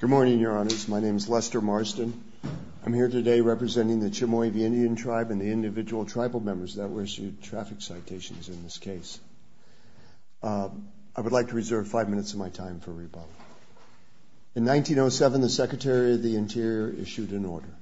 Good morning, Your Honors. My name is Lester Marston. I'm here today representing the Chemehuevi Indian Tribe and the individual tribal members that were issued traffic citations in this case. I would like to reserve five minutes of my time for rebuttal. In 1907, the Secretary of the Interior issued an order,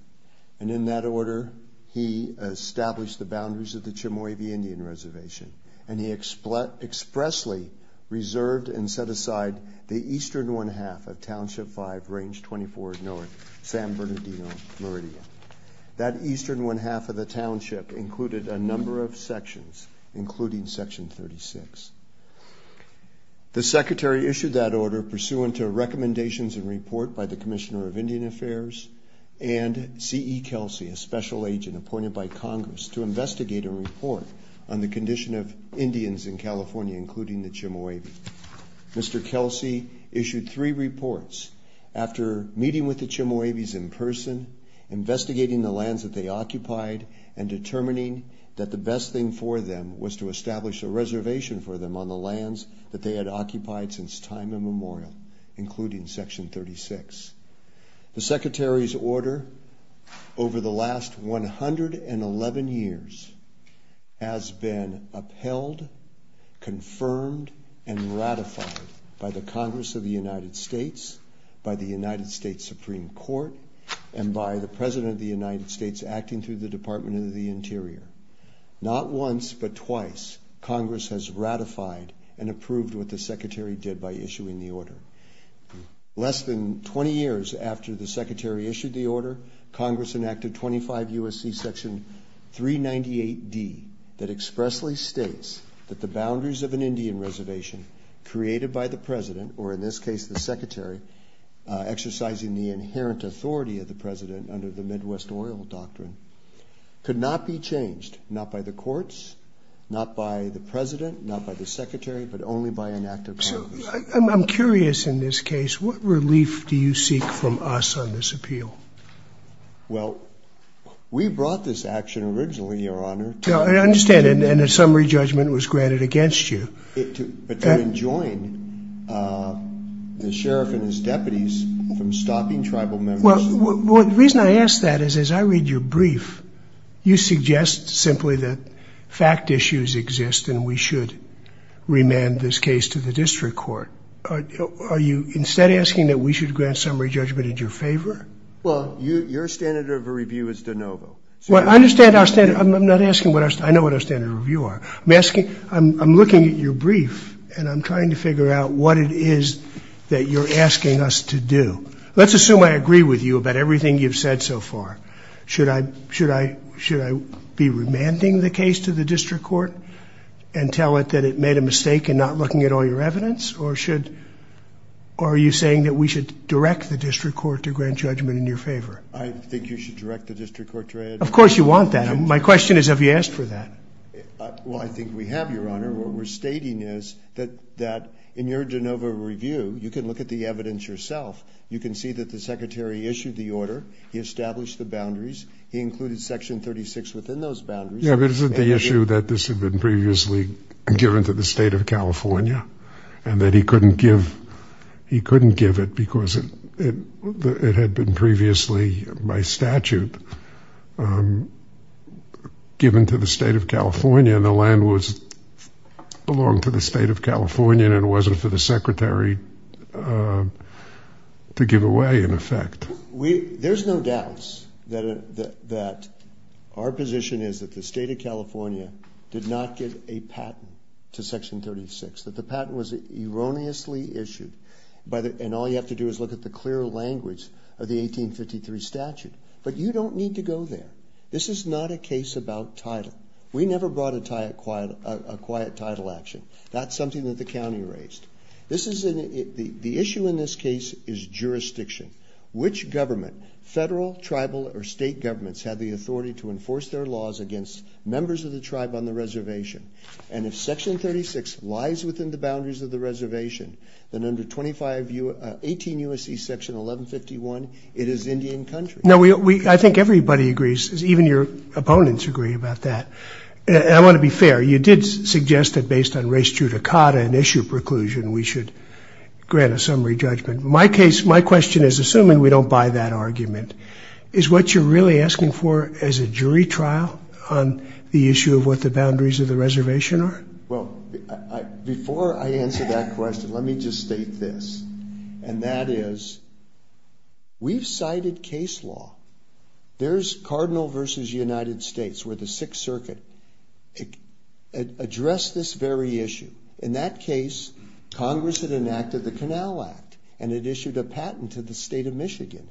and in that order he established the boundaries of the Chemehuevi Indian Reservation, and he expressly reserved and set aside the eastern one-half of Township 5, Range 24 North, San Bernardino, Meridian. That eastern one-half of the township included a number of sections, including Section 36. The Secretary issued that order pursuant to recommendations and report by the Commissioner of Indian Affairs and C.E. Kelsey, a special agent appointed by the Commission of Indians in California, including the Chemehuevi. Mr. Kelsey issued three reports after meeting with the Chemehuevis in person, investigating the lands that they occupied, and determining that the best thing for them was to establish a reservation for them on the lands that they had occupied since time immemorial, including Section 36. The Secretary's order over the last 111 years has been upheld, confirmed, and ratified by the Congress of the United States, by the United States Supreme Court, and by the President of the United States acting through the Department of the Interior. Not once, but twice, Congress has ratified and approved what the Secretary did by issuing the order. Less than 20 years after the Secretary issued the order, Congress enacted 25 U.S.C. Section 398D that expressly states that the boundaries of an Indian reservation created by the President, or in this case the Secretary, exercising the inherent authority of the President under the Midwest oil doctrine, could not be changed, not by the courts, not by the President, not by the Secretary, but only by an act of Congress. I'm curious, in this case, what relief do you seek from us on this appeal? Well, we brought this action originally, Your Honor. No, I understand, and a summary judgment was granted against you. To join the Sheriff and his deputies from stopping tribal members. Well, the reason I ask that is, as I read your brief, you suggest simply that fact issues exist and we should remand this case to the district court. Are you instead asking that we should grant summary judgment in your favor? Well, your standard of review is de novo. Well, I understand our standard, I'm not asking what our, I know what our standard of review are. I'm asking, I'm looking at your brief and I'm trying to figure out what it is that you're asking us to do. Let's assume I agree with you about everything you've said so far. Should I, should I, should I be remanding the case to the district court and tell it that it made a mistake in not looking at all your evidence, or should, are you saying that we should direct the district court to grant judgment in your favor? I think you should direct the district court to... Of course you want that. My question is, have you asked for that? Well, I think we have, Your Honor. What we're stating is that, that in your de novo review, you can look at the evidence yourself. You can see that the Secretary issued the order. He established the boundaries. He included section 36 within those boundaries. Yeah, but isn't the issue that this had been previously given to the state of California? He couldn't give, he couldn't give it because it had been previously, by statute, given to the state of California and the land was, belonged to the state of California and it wasn't for the Secretary to give away, in effect. We, there's no doubt that, that our position is that the state of California did not get a patent to section 36, that the patent was erroneously issued by the, and all you have to do is look at the clear language of the 1853 statute. But you don't need to go there. This is not a case about title. We never brought a quiet title action. That's something that the county raised. This is, the issue in this case is jurisdiction. Which government, federal, tribal, or state governments have the authority to enforce their laws against members of the tribe on the reservation? And if section 36 lies within the boundaries of the reservation, then under 25 U, 18 U.S.C. section 1151, it is Indian country. No, we, we, I think everybody agrees, even your opponents agree about that. And I want to be fair, you did suggest that based on race judicata and issue preclusion, we should grant a summary judgment. My case, my question is, assuming we don't buy that argument, is what you're really asking for as a jury trial on the issue of what the boundaries of the reservation are? Well, I, before I answer that question, let me just state this. And that is, we've cited case law. There's Cardinal versus United States, where the Sixth Circuit addressed this very issue. In that case, Congress had enacted the Canal Act. And it issued a patent to the state of Michigan.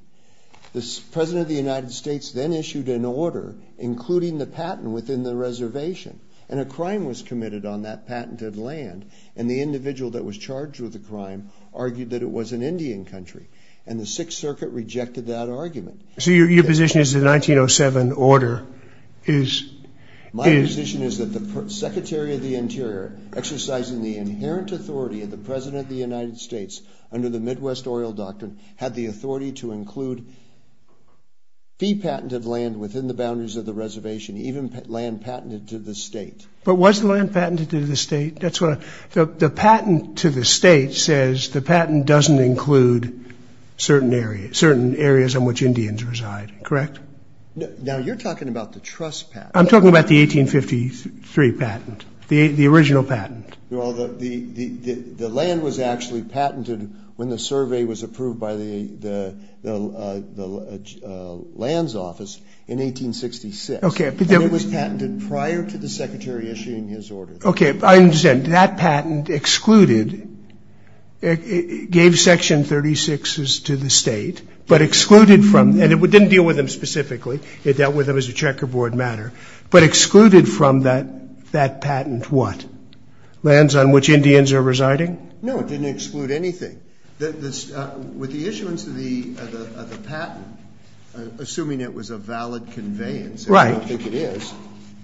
The President of the United States then issued an order, including the patent within the reservation. And a crime was committed on that patented land. And the individual that was charged with the crime argued that it was an Indian country. And the Sixth Circuit rejected that argument. So your, your position is the 1907 order is, is. My position is that the Secretary of the Interior, exercising the inherent authority of the President of the United States under the Midwest oil doctrine, had the authority to include fee patented land within the boundaries of the reservation, even land patented to the state. But was the land patented to the state? That's what, the, the patent to the state says the patent doesn't include certain areas, certain areas on which Indians reside, correct? Now, you're talking about the trust patent. I'm talking about the 1853 patent. The, the original patent. Well, the, the, the, the land was actually patented when the survey was approved by the, the, the, the, the lands office in 1866. Okay. And it was patented prior to the Secretary issuing his order. Okay. I understand. That patent excluded, it, it, it gave Section 36s to the state, but excluded from, and it didn't deal with them specifically. It dealt with them as a checkerboard matter. But excluded from that, that patent what? Lands on which Indians are residing? No, it didn't exclude anything. The, the, with the issuance of the, of the, of the patent, assuming it was a valid conveyance, I don't think it is,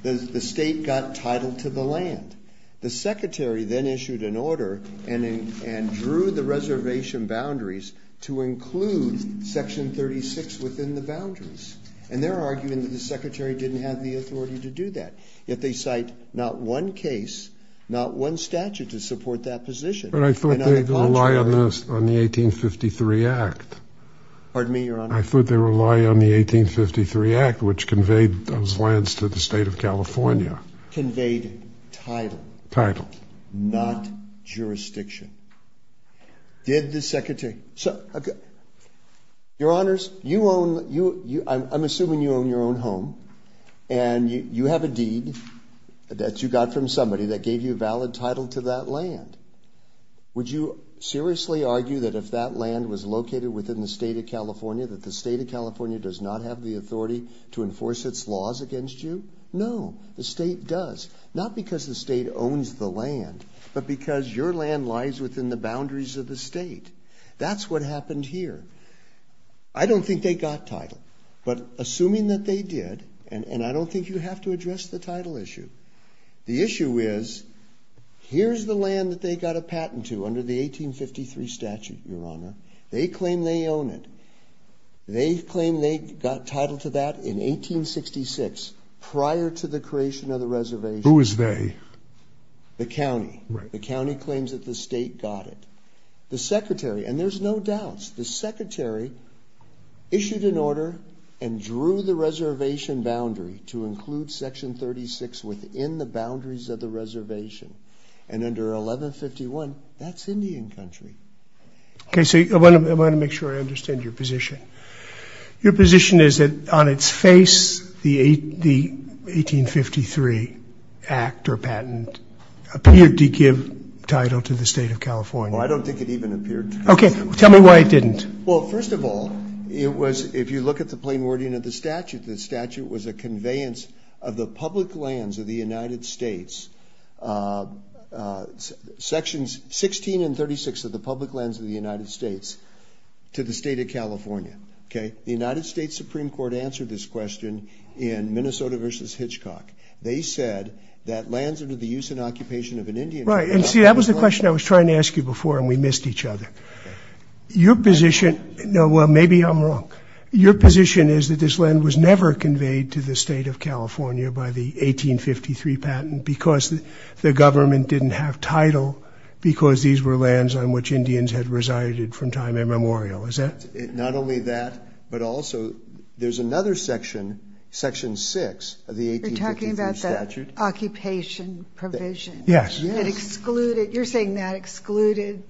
the, the state got title to the land. The Secretary then issued an order and, and, and drew the reservation boundaries to include Section 36 within the boundaries. And they're arguing that the Secretary didn't have the authority to do that. Yet they cite not one case, not one statute to support that position. But I thought they rely on this, on the 1853 Act. Pardon me, Your Honor. I thought they rely on the 1853 Act, which conveyed those lands to the state of California. Conveyed title. Title. Not jurisdiction. Did the Secretary, so, okay. Your Honors, you own, you, you, I'm, I'm assuming you own your own home. And you, you have a deed that you got from somebody that gave you a valid title to that land. Would you seriously argue that if that land was located within the state of California, that the state of California does not have the authority to enforce its laws against you? No. The state does. Not because the state owns the land, but because your land lies within the boundaries of the state. That's what happened here. I don't think they got title. But assuming that they did, and, and I don't think you have to address the title issue. The issue is, here's the land that they got a patent to under the 1853 statute, Your Honor. They claim they own it. They claim they got title to that in 1866, prior to the creation of the reservation. Who is they? The county. Right. The county claims that the state got it. The Secretary, and there's no doubts, the Secretary issued an order and drew the reservation boundary to include section 36 within the boundaries of the reservation. And under 1151, that's Indian country. Okay, so I want to make sure I understand your position. Your position is that on its face, the 1853 act or patent appeared to give title to the state of California. I don't think it even appeared to. Okay, tell me why it didn't. Well, first of all, it was, if you look at the plain wording of the statute, the statute was a conveyance of the public lands of the United States. Sections 16 and 36 of the public lands of the United States to the state of California. Okay, the United States Supreme Court answered this question in Minnesota versus Hitchcock, they said that lands under the use and occupation of an Indian. Right, and see that was the question I was trying to ask you before and we missed each other. Your position, no, well, maybe I'm wrong. Your position is that this land was never conveyed to the state of California by the 1853 patent because the government didn't have title because these were lands on which Indians had resided from time immemorial, is that? Not only that, but also there's another section, section six of the 1853 statute. You're talking about the occupation provision. Yes. It excluded, you're saying that excluded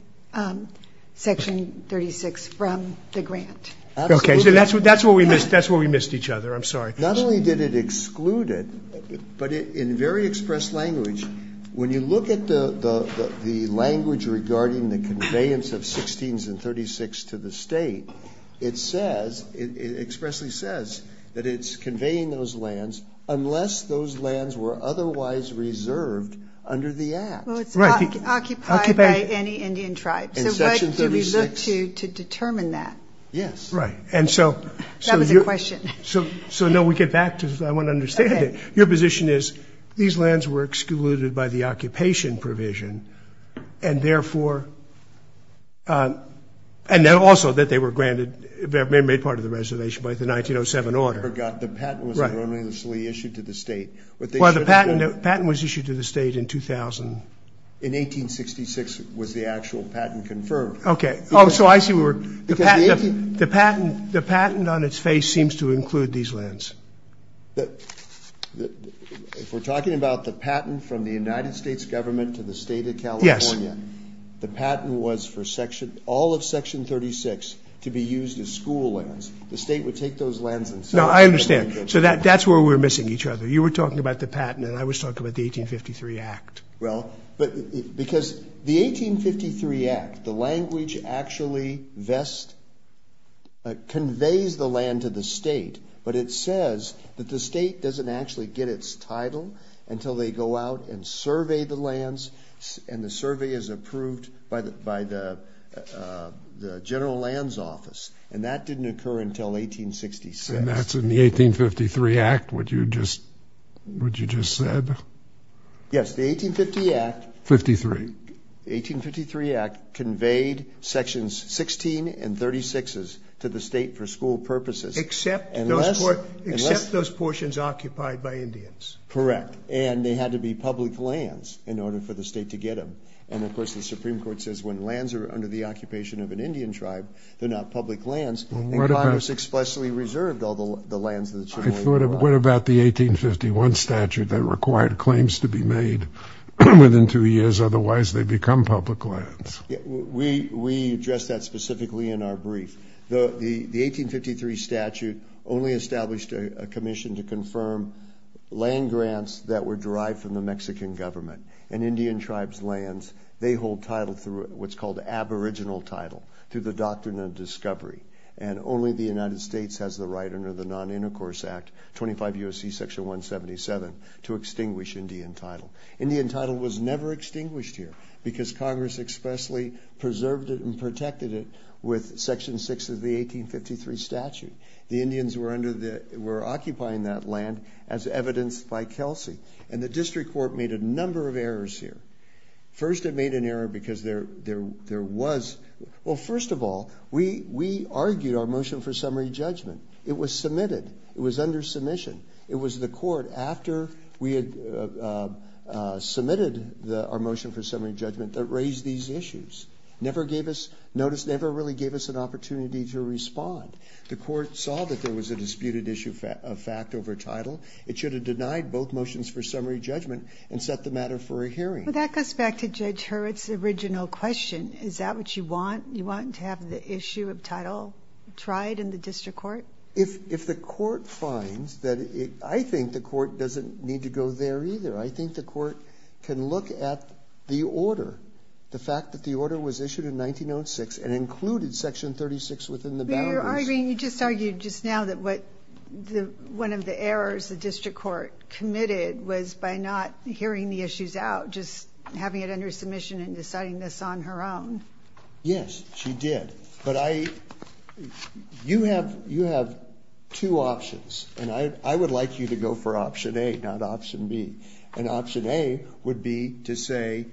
section 36 from the grant. Okay, so that's where we missed each other, I'm sorry. Not only did it exclude it, but in very expressed language, when you look at the language regarding the conveyance of 16s and 36 to the state, it says, it expressly says that it's conveying those lands unless those lands were otherwise reserved under the act. Well, it's occupied by any Indian tribe. So what do we look to to determine that? Yes. Right, and so- That was a question. So, no, we get back to, I want to understand it. Your position is these lands were excluded by the occupation provision and therefore, and then also that they were granted, made part of the reservation by the 1907 order. The patent was enormously issued to the state. Well, the patent was issued to the state in 2000. In 1866 was the actual patent confirmed. Okay, so I see where the patent on its face seems to include these lands. If we're talking about the patent from the United States government to the state of California, the patent was for all of section 36 to be used as school lands. The state would take those lands and- No, I understand. So that's where we're missing each other. You were talking about the patent and I was talking about the 1853 Act. Well, because the 1853 Act, the language actually conveys the land to the state, but it says that the state doesn't actually get its title until they go out and survey the lands and the survey is approved by the general lands office. And that didn't occur until 1866. And that's in the 1853 Act, what you just said? Yes, the 1853 Act- Fifty-three. The 1853 Act conveyed sections 16 and 36s to the state for school purposes. Except those portions occupied by Indians. Correct. And they had to be public lands in order for the state to get them. And of course, the Supreme Court says when lands are under the occupation of an Indian tribe, they're not public lands. And Congress expressly reserved all the lands that should be- What about the 1851 statute that required claims to be made within two years? Otherwise, they become public lands. We addressed that specifically in our brief. The 1853 statute only established a commission to confirm land grants that were derived from the Mexican government. And Indian tribes' lands, they hold title through what's called aboriginal title, through the doctrine of discovery. And only the United States has the right under the Non-Intercourse Act, 25 U.S.C. Section 177, to extinguish Indian title. Indian title was never extinguished here because Congress expressly preserved it and protected it with Section 6 of the 1853 statute. The Indians were occupying that land as evidenced by Kelsey. And the district court made a number of errors here. First, it made an error because there was- Well, first of all, we argued our motion for summary judgment. It was submitted. It was under submission. It was the court, after we had submitted our motion for summary judgment, that raised these issues. Never gave us- Notice never really gave us an opportunity to respond. The court saw that there was a disputed issue of fact over title. It should have denied both motions for summary judgment and set the matter for a hearing. Well, that goes back to Judge Hurwitz's original question. Is that what you want? You want to have the issue of title tried in the district court? If the court finds that it- I think the court doesn't need to go there either. I think the court can look at the order, the fact that the order was issued in 1906 and included Section 36 within the boundaries. But you're arguing- you just argued just now that what the- one of the errors the district court committed was by not hearing the issues out, just having it under submission and deciding this on her own. Yes, she did. But I- you have two options. And I would like you to go for option A, not option B. And option A would be to say,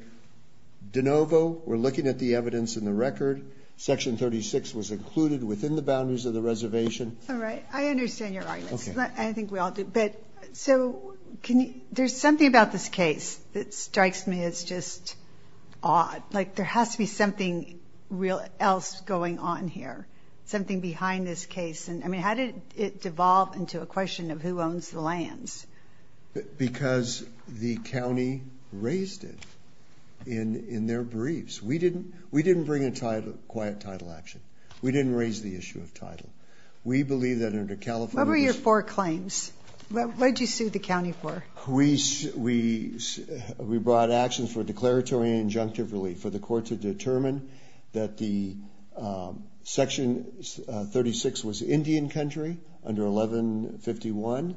de novo, we're looking at the evidence in the record. Section 36 was included within the boundaries of the reservation. All right. I understand your arguments. I think we all do. So can you- there's something about this case that strikes me as just odd. Like, there has to be something else going on here, something behind this case. And I mean, how did it devolve into a question of who owns the lands? Because the county raised it in their briefs. We didn't bring a quiet title action. We didn't raise the issue of title. We believe that under California's- What did you sue the county for? We brought actions for declaratory and injunctive relief for the court to determine that the section 36 was Indian country under 1151.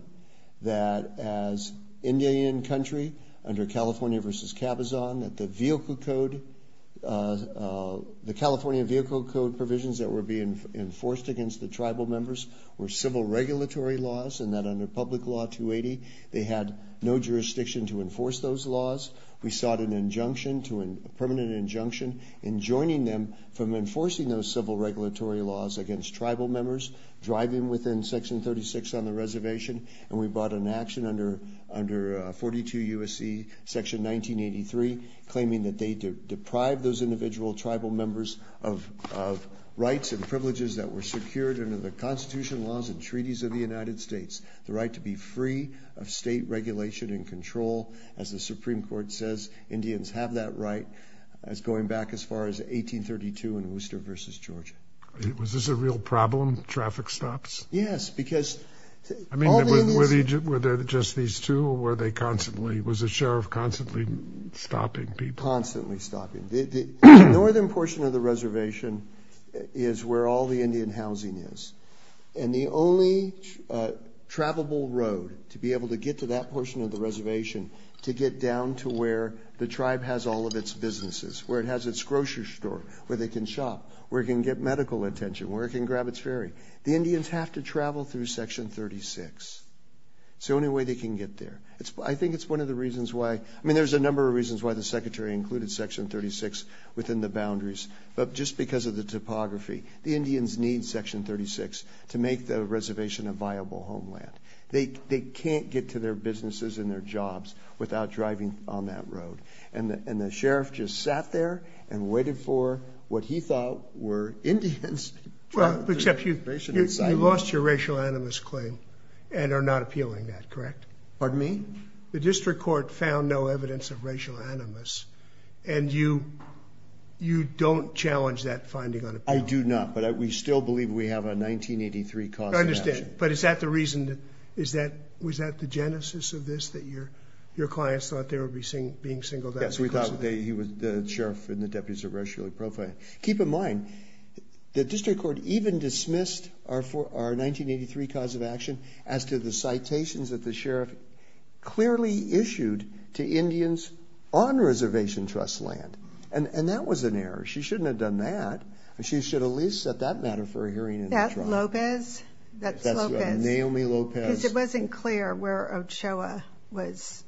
That as Indian country under California versus Cabazon, that the vehicle code, the California vehicle code provisions that were being enforced against the tribal members were civil regulatory laws, and that under public law 280, they had no jurisdiction to enforce those laws. We sought an injunction to a permanent injunction in joining them from enforcing those civil regulatory laws against tribal members, driving within section 36 on the reservation. And we brought an action under 42 U.S.C. section 1983, claiming that they deprived those individual tribal members of rights and privileges that were secured under the constitution laws and the right to be free of state regulation and control. As the Supreme Court says, Indians have that right. It's going back as far as 1832 in Worcester versus Georgia. Was this a real problem, traffic stops? Yes, because- I mean, were there just these two, or were they constantly, was the sheriff constantly stopping people? Constantly stopping. The northern portion of the reservation is where all the Indian housing is. And the only travelable road to be able to get to that portion of the reservation to get down to where the tribe has all of its businesses, where it has its grocery store, where they can shop, where it can get medical attention, where it can grab its ferry, the Indians have to travel through section 36. It's the only way they can get there. I think it's one of the reasons why, I mean, there's a number of reasons why the secretary included section 36 within the boundaries, but just because of the topography, the Indians need section 36 to make the reservation a viable homeland. They can't get to their businesses and their jobs without driving on that road. And the sheriff just sat there and waited for what he thought were Indians. Well, except you lost your racial animus claim and are not appealing that, correct? Pardon me? The district court found no evidence of racial animus. And you don't challenge that finding on appeal? I do not, but we still believe we have a 1983 cause of action. I understand, but is that the reason, was that the genesis of this, that your clients thought they were being singled out because of that? Yes, we thought he was the sheriff and the deputies of racial profiling. Keep in mind, the district court even dismissed our 1983 cause of action as to the citations that the sheriff clearly issued to Indians on reservation trust land, and that was an error. She shouldn't have done that. She should have at least set that matter for a hearing in the tribe. That's Lopez? That's Lopez. That's Naomi Lopez. Because it wasn't clear where Ochoa was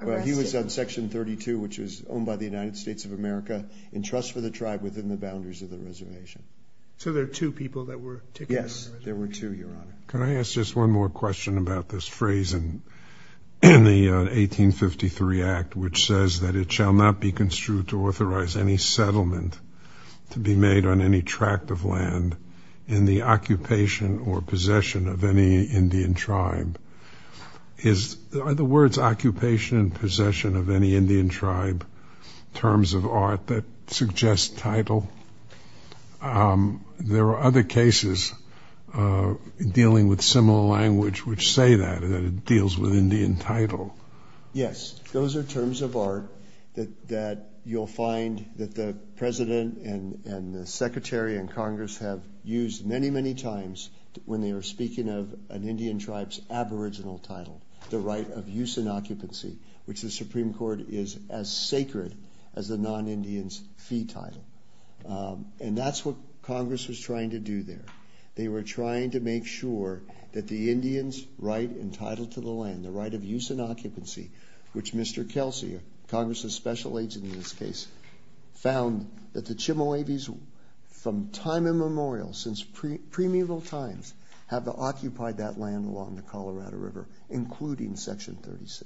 arrested. Well, he was on section 32, which was owned by the United States of America, in trust for the tribe within the boundaries of the reservation. So there are two people that were taken to the reservation? Yes, there were two, your honor. Could I ask just one more question about this phrase in the 1853 Act, which says that it shall not be construed to authorize any settlement to be made on any tract of land in the occupation or possession of any Indian tribe. Is, are the words occupation and possession of any Indian tribe terms of art that suggest title? There are other cases dealing with similar language which say that, that it deals with Indian title. Yes, those are terms of art that, that you'll find that the President and, and the Secretary and Congress have used many, many times when they were speaking of an Indian tribe's aboriginal title, the right of use and occupancy, which the Supreme Court is as sacred as the non-Indian's fee title. And that's what Congress was trying to do there. They were trying to make sure that the Indian's right entitled to the land, the right of use and occupancy, which Mr. Kelsey, Congress's special agent in this case, found that the Chimoabes from time immemorial, since pre, pre-memorial times, have occupied that land along the Colorado River, including section 36.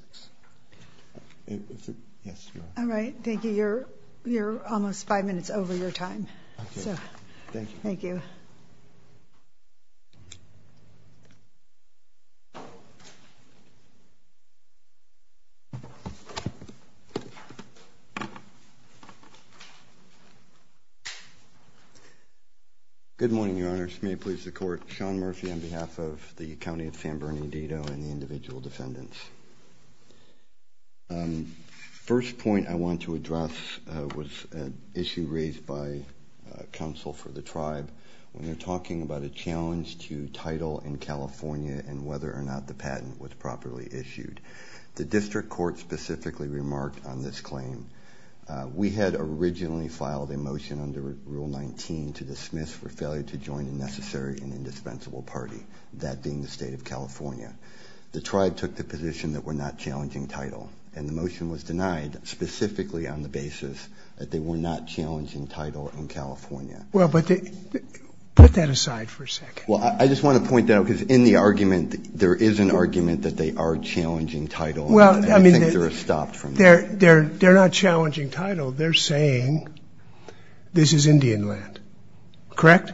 Is it, yes, you are. All right, thank you. You're, you're almost five minutes over your time. So. Thank you. Thank you. Good morning, your honors. May it please the court. Sean Murphy on behalf of the county of San Bernardino and the individual defendants. First point I want to address was an issue raised by counsel for the tribe when they're talking about a challenge to title in California and whether or not the patent was properly issued. The district court specifically remarked on this claim. We had originally filed a motion under rule 19 to dismiss for an indispensable party, that being the state of California. The tribe took the position that we're not challenging title. And the motion was denied specifically on the basis that they were not challenging title in California. Well, but the, put that aside for a second. Well, I just want to point out, because in the argument, there is an argument that they are challenging title. Well, I mean, they're, they're, they're not challenging title. They're saying this is Indian land. Correct?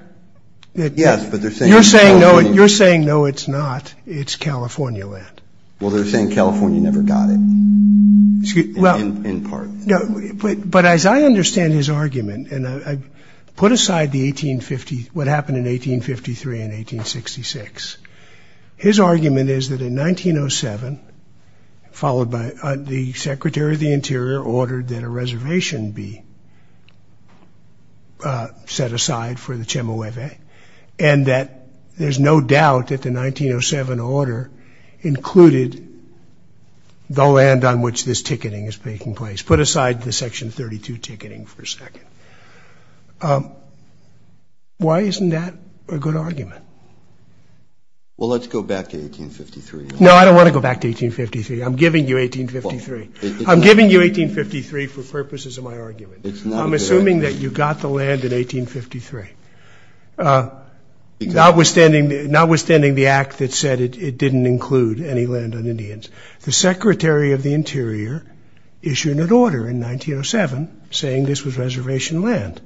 Yes, but they're saying- You're saying no, you're saying no, it's not. It's California land. Well, they're saying California never got it, in part. No, but as I understand his argument, and I put aside the 1850, what happened in 1853 and 1866. His argument is that in 1907, followed by the Secretary of the Interior ordered that a reservation be set aside for the Chemehueve, and that there's no doubt that the 1907 order included the land on which this ticketing is taking place. Put aside the section 32 ticketing for a second. Why isn't that a good argument? Well, let's go back to 1853. No, I don't want to go back to 1853. I'm giving you 1853. I'm giving you 1853 for purposes of my argument. It's not a good argument. I'm assuming that you got the land in 1853, notwithstanding, notwithstanding the act that said it didn't include any land on Indians. The Secretary of the Interior issued an order in 1907, saying this was reservation land.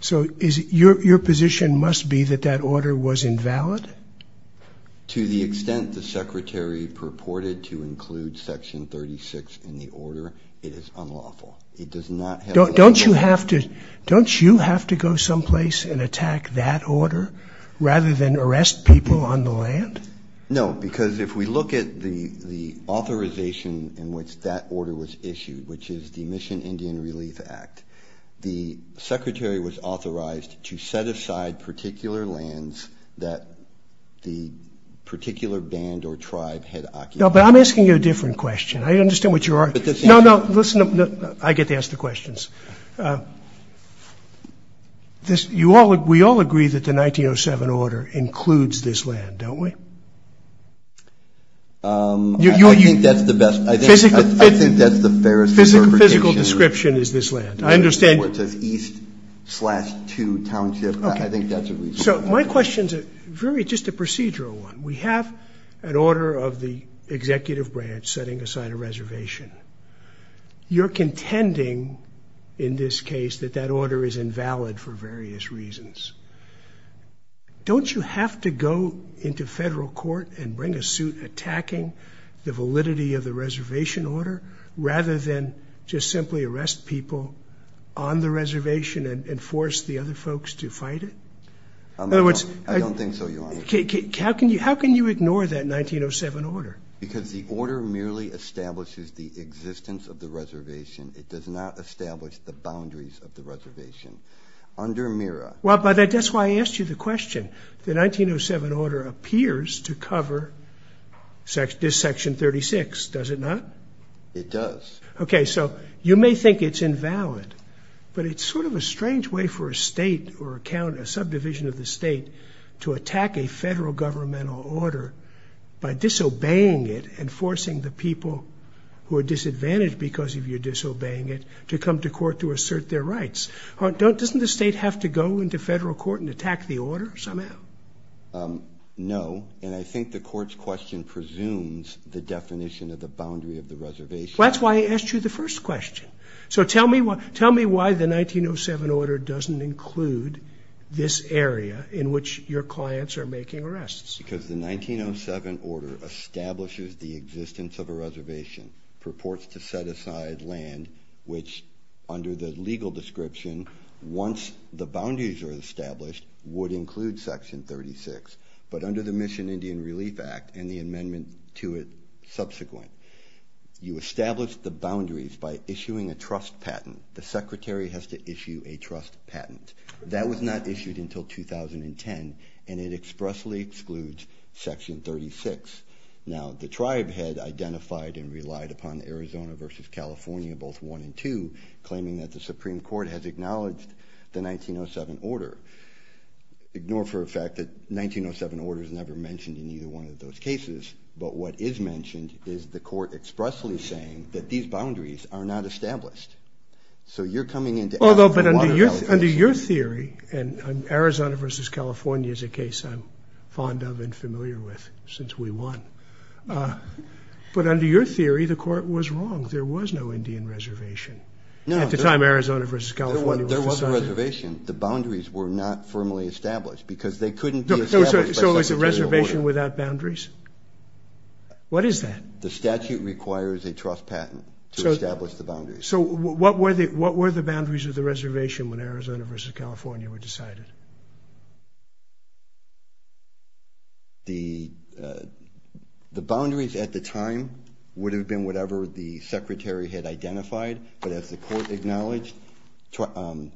So is, your, your position must be that that order was invalid? To the extent the Secretary purported to include section 36 in the order, it is unlawful. It does not have the right to- Don't, don't you have to, don't you have to go someplace and attack that order, rather than arrest people on the land? No, because if we look at the, the authorization in which that order was issued, which is the Mission Indian Relief Act, the Secretary was authorized to set aside particular lands that the particular band or tribe had occupied. No, but I'm asking you a different question. I understand what you're, no, no, listen up, no, I get to ask the questions. This, you all, we all agree that the 1907 order includes this land, don't we? I think that's the best, I think, I think that's the fairest interpretation. Physical, physical description is this land. I understand. So, my question's a very, just a procedural one. We have an order of the executive branch setting aside a reservation. You're contending, in this case, that that order is invalid for various reasons. Don't you have to go into federal court and bring a suit attacking the validity of the reservation order, rather than just simply arrest people on the reservation and, and force the other folks to fight it? In other words, how can you, how can you ignore that 1907 order? Because the order merely establishes the existence of the reservation. It does not establish the boundaries of the reservation. Under MIRA. Well, but that's why I asked you the question. The 1907 order appears to cover section, this section 36, does it not? It does. Okay, so you may think it's invalid, but it's sort of a strange way for a state or account, a subdivision of the state, to attack a federal governmental order by disobeying it and forcing the people who are disadvantaged because of your disobeying it, to come to court to assert their rights. Don't, doesn't the state have to go into federal court and attack the order somehow? No, and I think the court's question presumes the definition of the boundary of the reservation. That's why I asked you the first question. So tell me what, tell me why the 1907 order doesn't include this area in which your clients are making arrests. Because the 1907 order establishes the existence of a reservation, purports to set aside land, which under the legal description, once the boundaries are established, would include section 36. But under the Mission Indian Relief Act and the amendment to it subsequent, you establish the boundaries by issuing a trust patent. The secretary has to issue a trust patent. That was not issued until 2010, and it expressly excludes section 36. Now, the tribe had identified and relied upon Arizona versus California, both one and two, claiming that the Supreme Court has acknowledged the 1907 order. Ignore for a fact that 1907 order is never mentioned in either one of those cases. But what is mentioned is the court expressly saying that these boundaries are not established. So you're coming into- Although, but under your theory, and Arizona versus California is a case I'm fond of and familiar with since we won. But under your theory, the court was wrong. There was no Indian reservation at the time Arizona versus California was decided. There was a reservation. The boundaries were not firmly established because they couldn't be established- So it was a reservation without boundaries? What is that? The statute requires a trust patent to establish the boundaries. So what were the boundaries of the reservation when Arizona versus California were decided? The boundaries at the time would have been whatever the secretary had identified. But as the court acknowledged,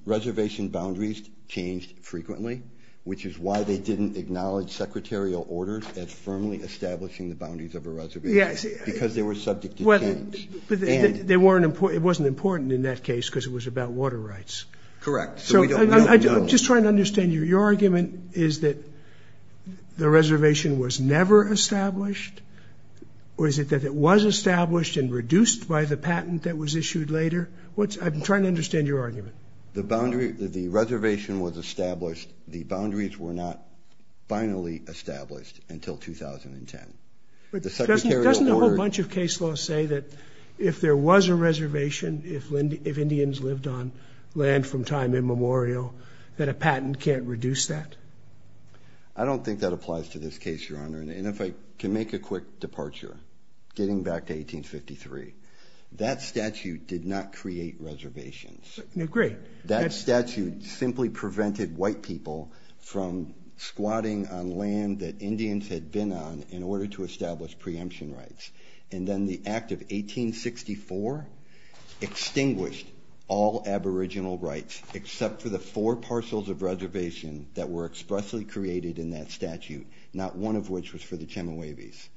reservation boundaries changed frequently, which is why they didn't acknowledge secretarial orders as firmly establishing the boundaries of a reservation because they were subject to change. But it wasn't important in that case because it was about water rights. Correct. So we don't know. I'm just trying to understand you. Your argument is that the reservation was never established, or is it that it was established and reduced by the patent that was issued later? I'm trying to understand your argument. The reservation was established. The boundaries were not finally established until 2010. But doesn't a whole bunch of case laws say that if there was a reservation, if Indians lived on land from time immemorial, that a patent can't reduce that? I don't think that applies to this case, Your Honor. And if I can make a quick departure, getting back to 1853, that statute did not create reservations. I agree. That statute simply prevented white people from squatting on land that Indians had been on in order to establish preemption rights. And then the act of 1864 extinguished all aboriginal rights, except for the four parcels of reservation that were expressly created in that statute, not one of which was for the Chemehuevis.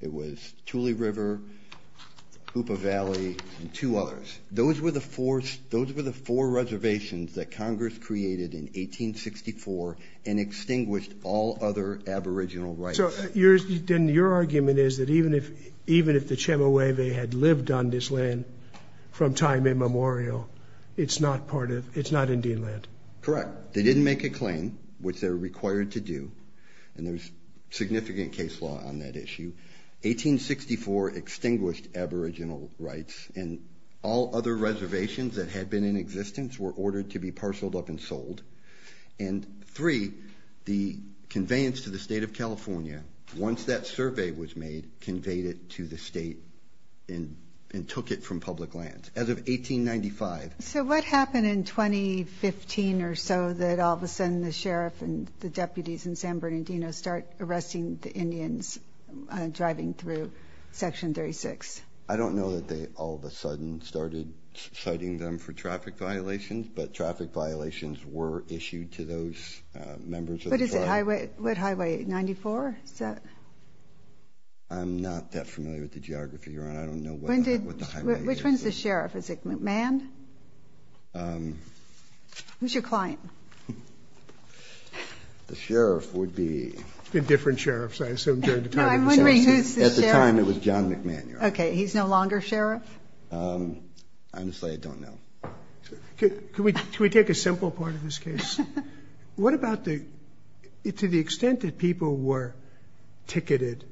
It was Tule River, Hoopa Valley, and two others. Those were the four reservations that Congress created in 1864 and extinguished all other aboriginal rights. So then your argument is that even if the Chemehuevi had lived on this land from time immemorial, it's not Indian land? Correct. They didn't make a claim, which they're required to do. And there's significant case law on that issue. 1864 extinguished aboriginal rights, and all other reservations that had been in existence were ordered to be parceled up and sold. And three, the conveyance to the state of California, once that survey was made, conveyed it to the state and took it from public lands as of 1895. So what happened in 2015 or so that all of a sudden the sheriff and the deputies in San Bernardino start arresting the Indians driving through Section 36? I don't know that they all of a sudden started citing them for traffic violations, but traffic violations were issued to those members of the tribe. What highway? 94? I'm not that familiar with the geography, Your Honor. I don't know what the highway is. Which one's the sheriff? Is it McMahon? Who's your client? The sheriff would be... It's been different sheriffs, I assume, during the time of the... No, I'm wondering who's the sheriff. At the time, it was John McMahon, Your Honor. Okay, he's no longer sheriff? I'm just saying I don't know. Can we take a simple part of this case? What about the... To the extent that people were ticketed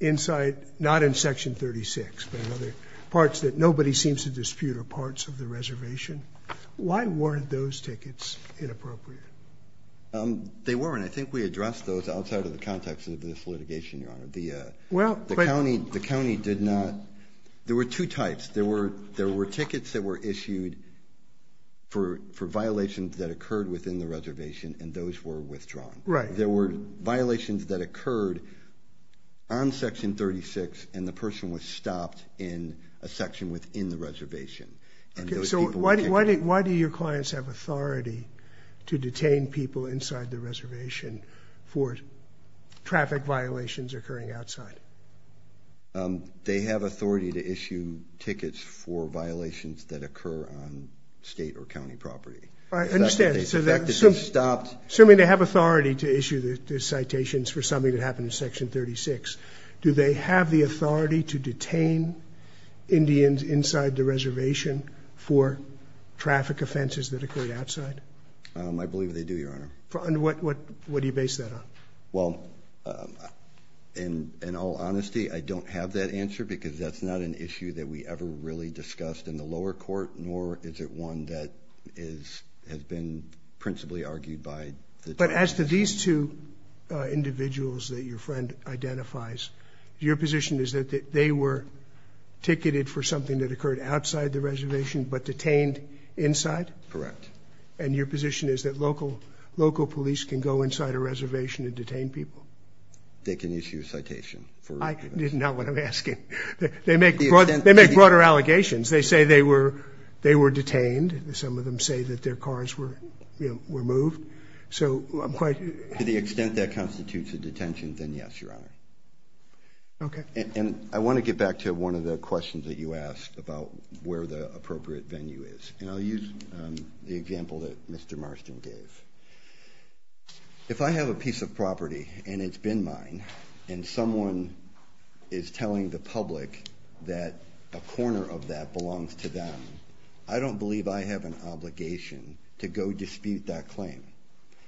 inside, not in Section 36, but in other parts that nobody seems to dispute are parts of the reservation, why weren't those tickets inappropriate? They weren't. I think we addressed those outside of the context of this litigation, Your Honor. The county did not... There were two types. There were tickets that were issued for violations that occurred within the reservation, and those were withdrawn. Right. There were violations that occurred on Section 36, and the person was stopped in a section within the reservation. Okay, so why do your clients have authority to detain people inside the reservation for traffic violations occurring outside? They have authority to issue tickets for violations that occur on state or county property. I understand, so that... The fact that they stopped... Assuming they have authority to issue the citations for something that happened in Section 36, do they have the authority to detain Indians inside the reservation for traffic offenses that occurred outside? I believe they do, Your Honor. And what do you base that on? Well, in all honesty, I don't have that answer because that's not an issue that we ever really discussed in the lower court, nor is it one that has been principally argued by the... But as to these two individuals that your friend identifies, your position is that they were ticketed for something that occurred outside the reservation but detained inside? Correct. And your position is that local police can go inside a reservation and detain people? They can issue a citation for... I didn't know what I'm asking. They make broader allegations. They say they were detained. Some of them say that their cars were moved. So I'm quite... To the extent that constitutes a detention, then yes, Your Honor. Okay. And I want to get back to one of the questions that you asked about where the appropriate venue is. And I'll use the example that Mr. Marston gave. If I have a piece of property and it's been mine, and someone is telling the public that a corner of that belongs to them, I don't believe I have an obligation to go dispute that claim.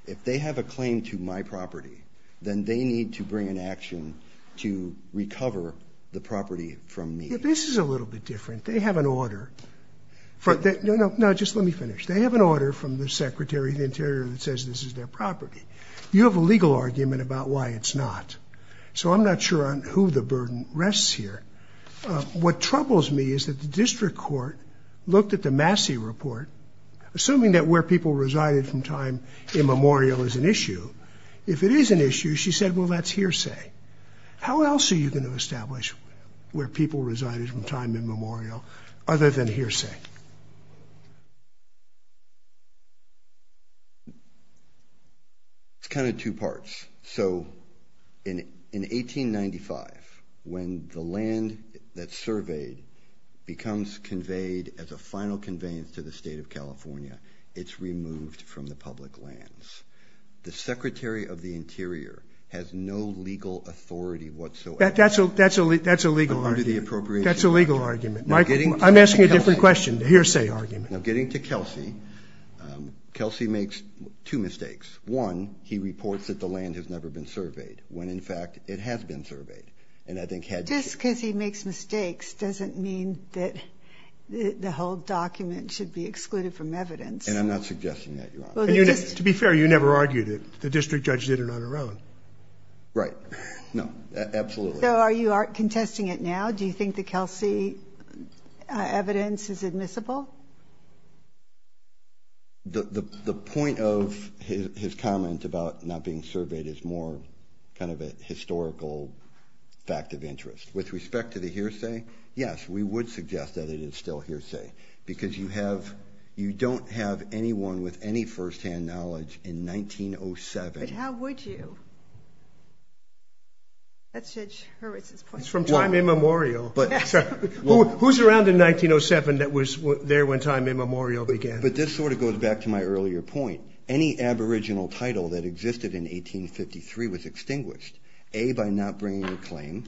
If they have a claim to my property, then they need to bring an action to recover the property from me. Yeah, this is a little bit different. They have an order. No, no, just let me finish. They have an order from the Secretary of the Interior that says this is their property. You have a legal argument about why it's not. So I'm not sure on who the burden rests here. What troubles me is that the district court looked at the Massey report, assuming that where people resided from time immemorial is an issue. If it is an issue, she said, well, that's hearsay. How else are you going to establish where people resided from time immemorial other than hearsay? It's kind of two parts. So in 1895, when the land that's surveyed becomes conveyed as a final conveyance to the state of California, it's removed from the public lands. The Secretary of the Interior has no legal authority whatsoever. That's a legal argument. That's a legal argument. I'm asking a different question, a hearsay argument. Now getting to Kelsey, Kelsey makes two mistakes. One, he reports that the land has never been surveyed, when in fact it has been surveyed. And I think had she- Just because he makes mistakes doesn't mean that the whole document should be excluded from evidence. And I'm not suggesting that, Your Honor. To be fair, you never argued it. The district judge did it on her own. Right. No, absolutely. So are you contesting it now? Do you think the Kelsey evidence is admissible? The point of his comment about not being surveyed is more kind of a historical fact of interest. With respect to the hearsay, yes, we would suggest that it is still hearsay. Because you don't have anyone with any first-hand knowledge in 1907- But how would you? That's Judge Hurwitz's point. It's from time immemorial. Who's around in 1907 that was, that was not aware of it? There when time immemorial began. But this sort of goes back to my earlier point. Any aboriginal title that existed in 1853 was extinguished. A, by not bringing a claim,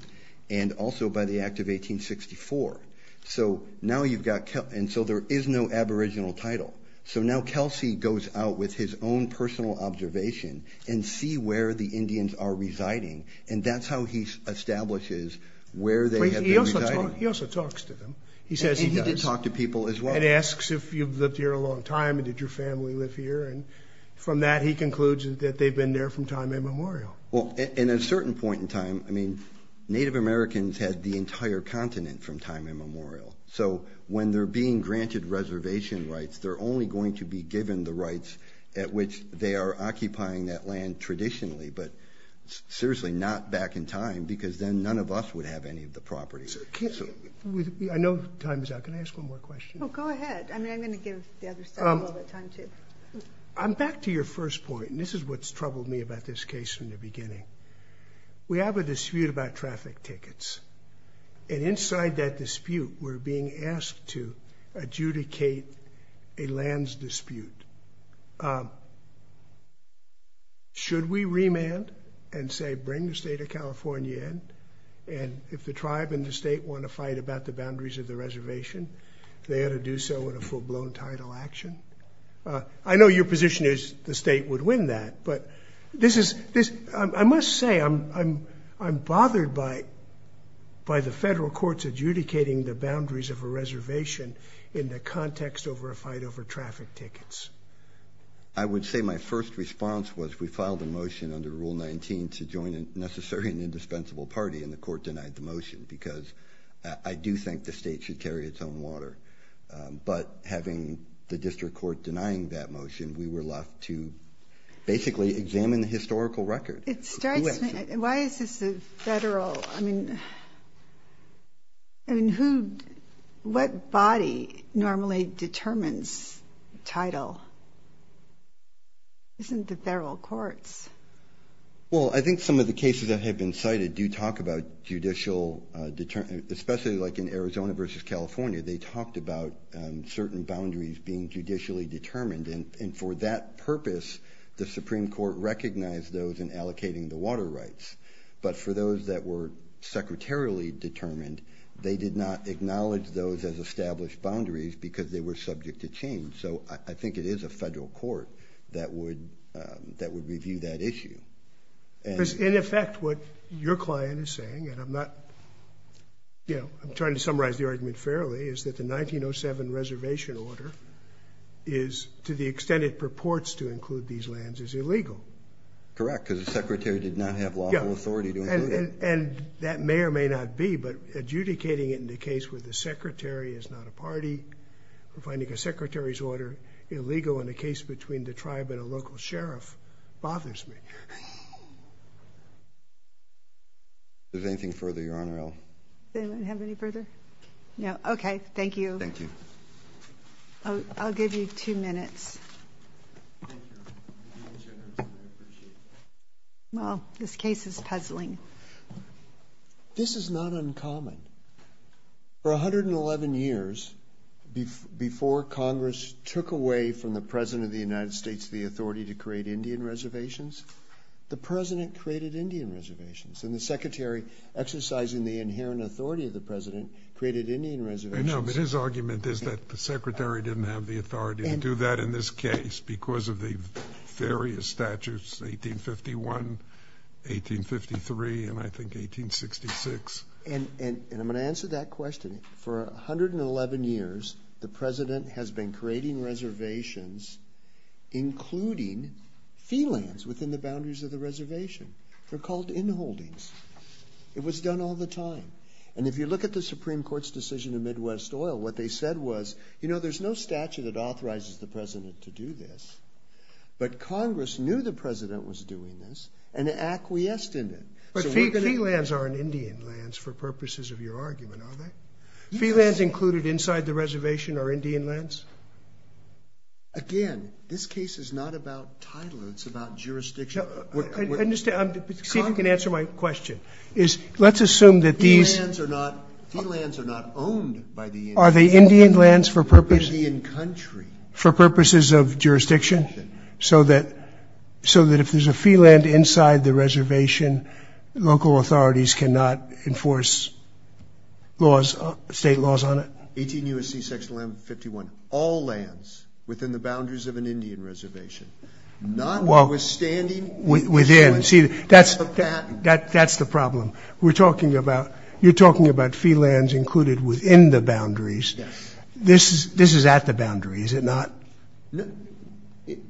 and also by the act of 1864. So now you've got- And so there is no aboriginal title. So now Kelsey goes out with his own personal observation and see where the Indians are residing. And that's how he establishes where they have been residing. He also talks to them. He says he does. He does talk to people as well. And asks if you've lived here a long time, and did your family live here? And from that, he concludes that they've been there from time immemorial. Well, in a certain point in time, I mean, Native Americans had the entire continent from time immemorial. So when they're being granted reservation rights, they're only going to be given the rights at which they are occupying that land traditionally. But seriously, not back in time, because then none of us would have any of the property. I know time is out. Can I ask one more question? Go ahead. I mean, I'm going to give the other side a little bit time too. I'm back to your first point. And this is what's troubled me about this case from the beginning. We have a dispute about traffic tickets. And inside that dispute, we're being asked to adjudicate a lands dispute. Should we remand and say, bring the state of California in? And if the tribe and the state want to fight about the boundaries of the reservation, they ought to do so in a full-blown title action? I know your position is the state would win that. But I must say, I'm bothered by the federal courts adjudicating the boundaries of a reservation in the context over a fight over traffic tickets. I would say my first response was we filed a motion under Rule 19 to join a necessary and indispensable party. And the court denied the motion, because I do think the state should carry its own water. But having the district court denying that motion, we were left to basically examine the historical record. It strikes me. Why is this a federal? What body normally determines title? Isn't it the federal courts? Well, I think some of the cases that have been cited do talk about judicial determination, especially like in Arizona versus California. They talked about certain boundaries being judicially determined. And for that purpose, the Supreme Court recognized those in allocating the water rights. But for those that were secretarially determined, they did not acknowledge those as established boundaries, because they were subject to change. So I think it is a federal court that would review that issue. In effect, what your client is saying, and I'm trying to summarize the argument fairly, is that the 1907 reservation order is, to the extent it purports to include these lands, is illegal. Correct, because the secretary did not have lawful authority to include it. And that may or may not be. But adjudicating it in the case where the secretary is not a party, or finding a secretary's order illegal in a case between the tribe and a local sheriff bothers me. Is there anything further, Your Honor? Does anyone have any further? No, OK. Thank you. Thank you. I'll give you two minutes. Well, this case is puzzling. This is not uncommon. For 111 years before Congress took away from the President of the United States the authority to create Indian reservations, the President created Indian reservations. And the Secretary, exercising the inherent authority of the President, created Indian reservations. I know, but his argument is that the Secretary didn't have the authority to do that in this case because of the various statutes, 1851, 1853, and I think 1866. And I'm going to answer that question. For 111 years, the President has been creating reservations including fee lands within the boundaries of the reservation. They're called inholdings. It was done all the time. And if you look at the Supreme Court's decision in Midwest oil, what they said was, you know there's no statute that authorizes the President to do this. But Congress knew the President was doing this and acquiesced in it. But fee lands aren't Indian lands for purposes of your argument, are they? Fee lands included inside the reservation are Indian lands? Again, this case is not about title. It's about jurisdiction. See if you can answer my question. Let's assume that these... Fee lands are not owned by the Indian country. Are they Indian lands for purposes of jurisdiction? So that if there's a fee land inside the reservation, local authorities cannot enforce state laws on it? 18 U.S.C. Section 151. All lands within the boundaries of an Indian reservation. Notwithstanding... Within. That's the problem. We're talking about... You're talking about fee lands included within the boundaries. This is at the boundaries, is it not?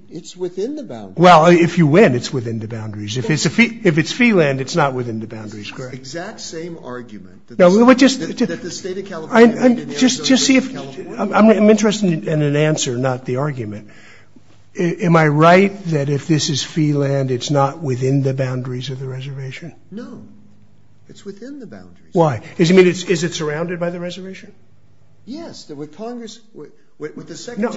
It's within the boundaries. Well, if you win, it's within the boundaries. If it's fee land, it's not within the boundaries. Exact same argument. Just see if... I'm interested in an answer, not the argument. Am I right that if this is fee land, it's not within the boundaries of the reservation? No. It's within the boundaries. Why? Is it surrounded by the reservation? Yes. With Congress... No.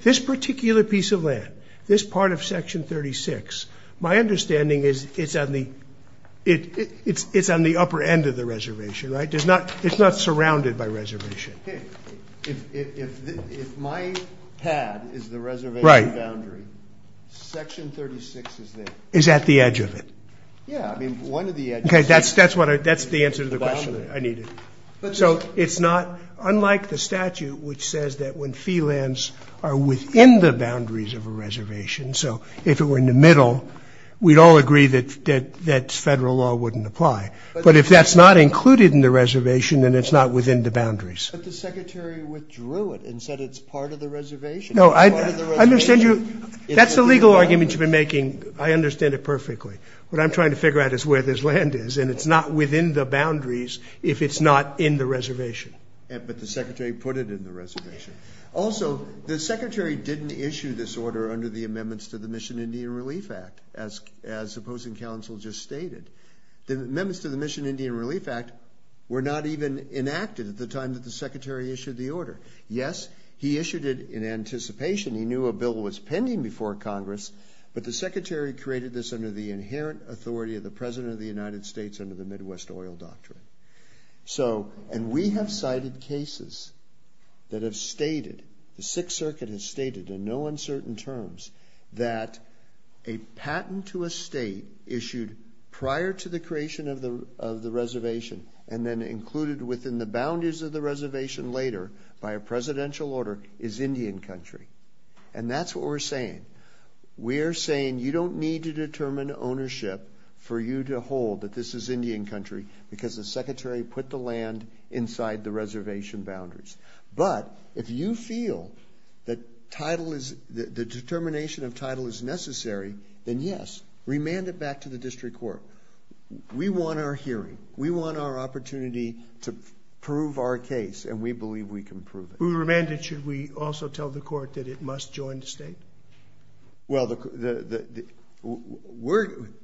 This particular piece of land, this part of Section 36, my understanding is it's on the upper end of the reservation. It's not surrounded by reservation. Okay. If my pad is the reservation boundary, Section 36 is there. Is at the edge of it. Yeah. I mean, one of the edges... Okay. That's the answer to the question I needed. So it's not, unlike the statute, which says that when fee lands are within the boundaries of a reservation, so if it were in the middle, we'd all agree that federal law wouldn't apply. But if that's not included in the reservation, then it's not within the boundaries. But the Secretary withdrew it and said it's part of the reservation. No, I understand you. That's the legal argument you've been making. I understand it perfectly. What I'm trying to figure out is where this land is, and it's not within the boundaries if it's not in the reservation. But the Secretary put it in the reservation. Also, the Secretary didn't issue this order under the amendments to the Mission Indian Relief Act, as opposing counsel just stated. The amendments to the Mission Indian Relief Act were not even enacted at the time that the Secretary issued the order. Yes, he issued it in anticipation. He knew a bill was pending before Congress, but the Secretary created this under the inherent authority of the President of the United States under the Midwest Oil Doctrine. And we have cited cases that have stated, the Sixth Circuit has stated in no uncertain terms, that a patent to a state issued prior to the creation of the reservation and then included within the boundaries of the reservation later by a presidential order is Indian country. And that's what we're saying. We're saying you don't need to determine ownership for you to hold that this is Indian country because the Secretary put the land inside the reservation boundaries. But if you feel that the determination of title is necessary, then yes, remand it back to the district court. We want our hearing. We want our opportunity to prove our case, and we believe we can prove it. When we remand it, should we also tell the court that it must join the state? Well,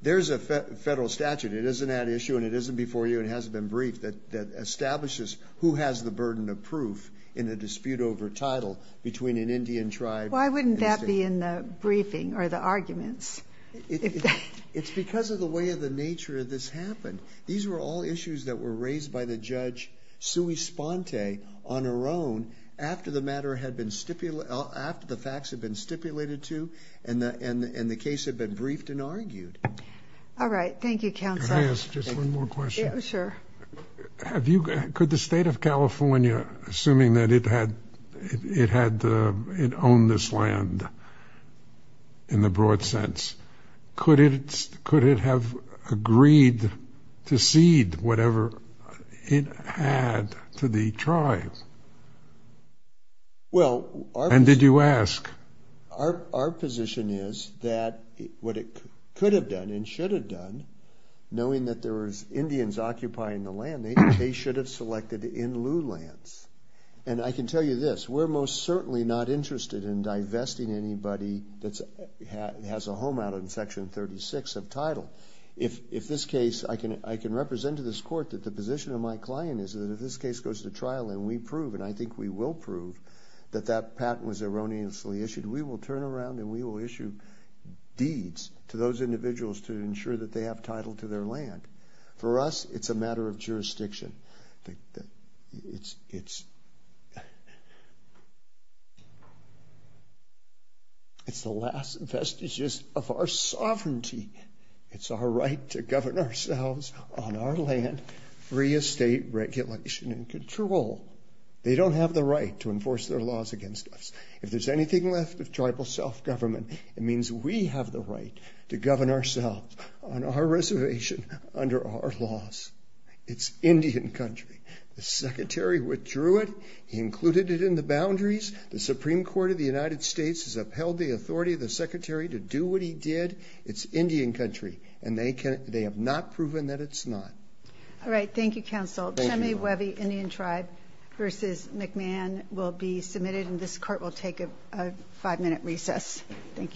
there's a federal statute. It isn't that issue, and it isn't before you, and it hasn't been briefed, that establishes who has the burden of proof in a dispute over title between an Indian tribe and state. Why wouldn't that be in the briefing or the arguments? It's because of the way of the nature of this happened. These were all issues that were raised by the Judge Sui Sponte on her own after the facts had been stipulated to and the case had been briefed and argued. All right. Thank you, Counsel. Can I ask just one more question? Sure. Could the state of California, assuming that it had owned this land in the broad sense, could it have agreed to cede whatever it had to the tribe? And did you ask? Our position is that what it could have done and should have done, knowing that there were Indians occupying the land, they should have selected in lieu lands. And I can tell you this. We're most certainly not interested in divesting anybody that has a home out on Section 36 of title. If this case, I can represent to this court that the position of my client is that if this case goes to trial and we prove, and I think we will prove, that that patent was erroneously issued, we will turn around and we will issue deeds to those individuals to ensure that they have title to their land. For us, it's a matter of jurisdiction. It's the last vestiges of our sovereignty. It's our right to govern ourselves on our land, free estate regulation and control. They don't have the right to enforce their laws against us. If there's anything left of tribal self-government, it means we have the right to govern ourselves on our reservation under our laws. It's Indian country. The Secretary withdrew it. He included it in the boundaries. The Supreme Court of the United States has upheld the authority of the Secretary to do what he did. It's Indian country, and they have not proven that it's not. All right. Thank you, Counsel. Chemi, Wehvi, Indian Tribe v. McMahon will be submitted, and this Court will take a five-minute recess. Thank you.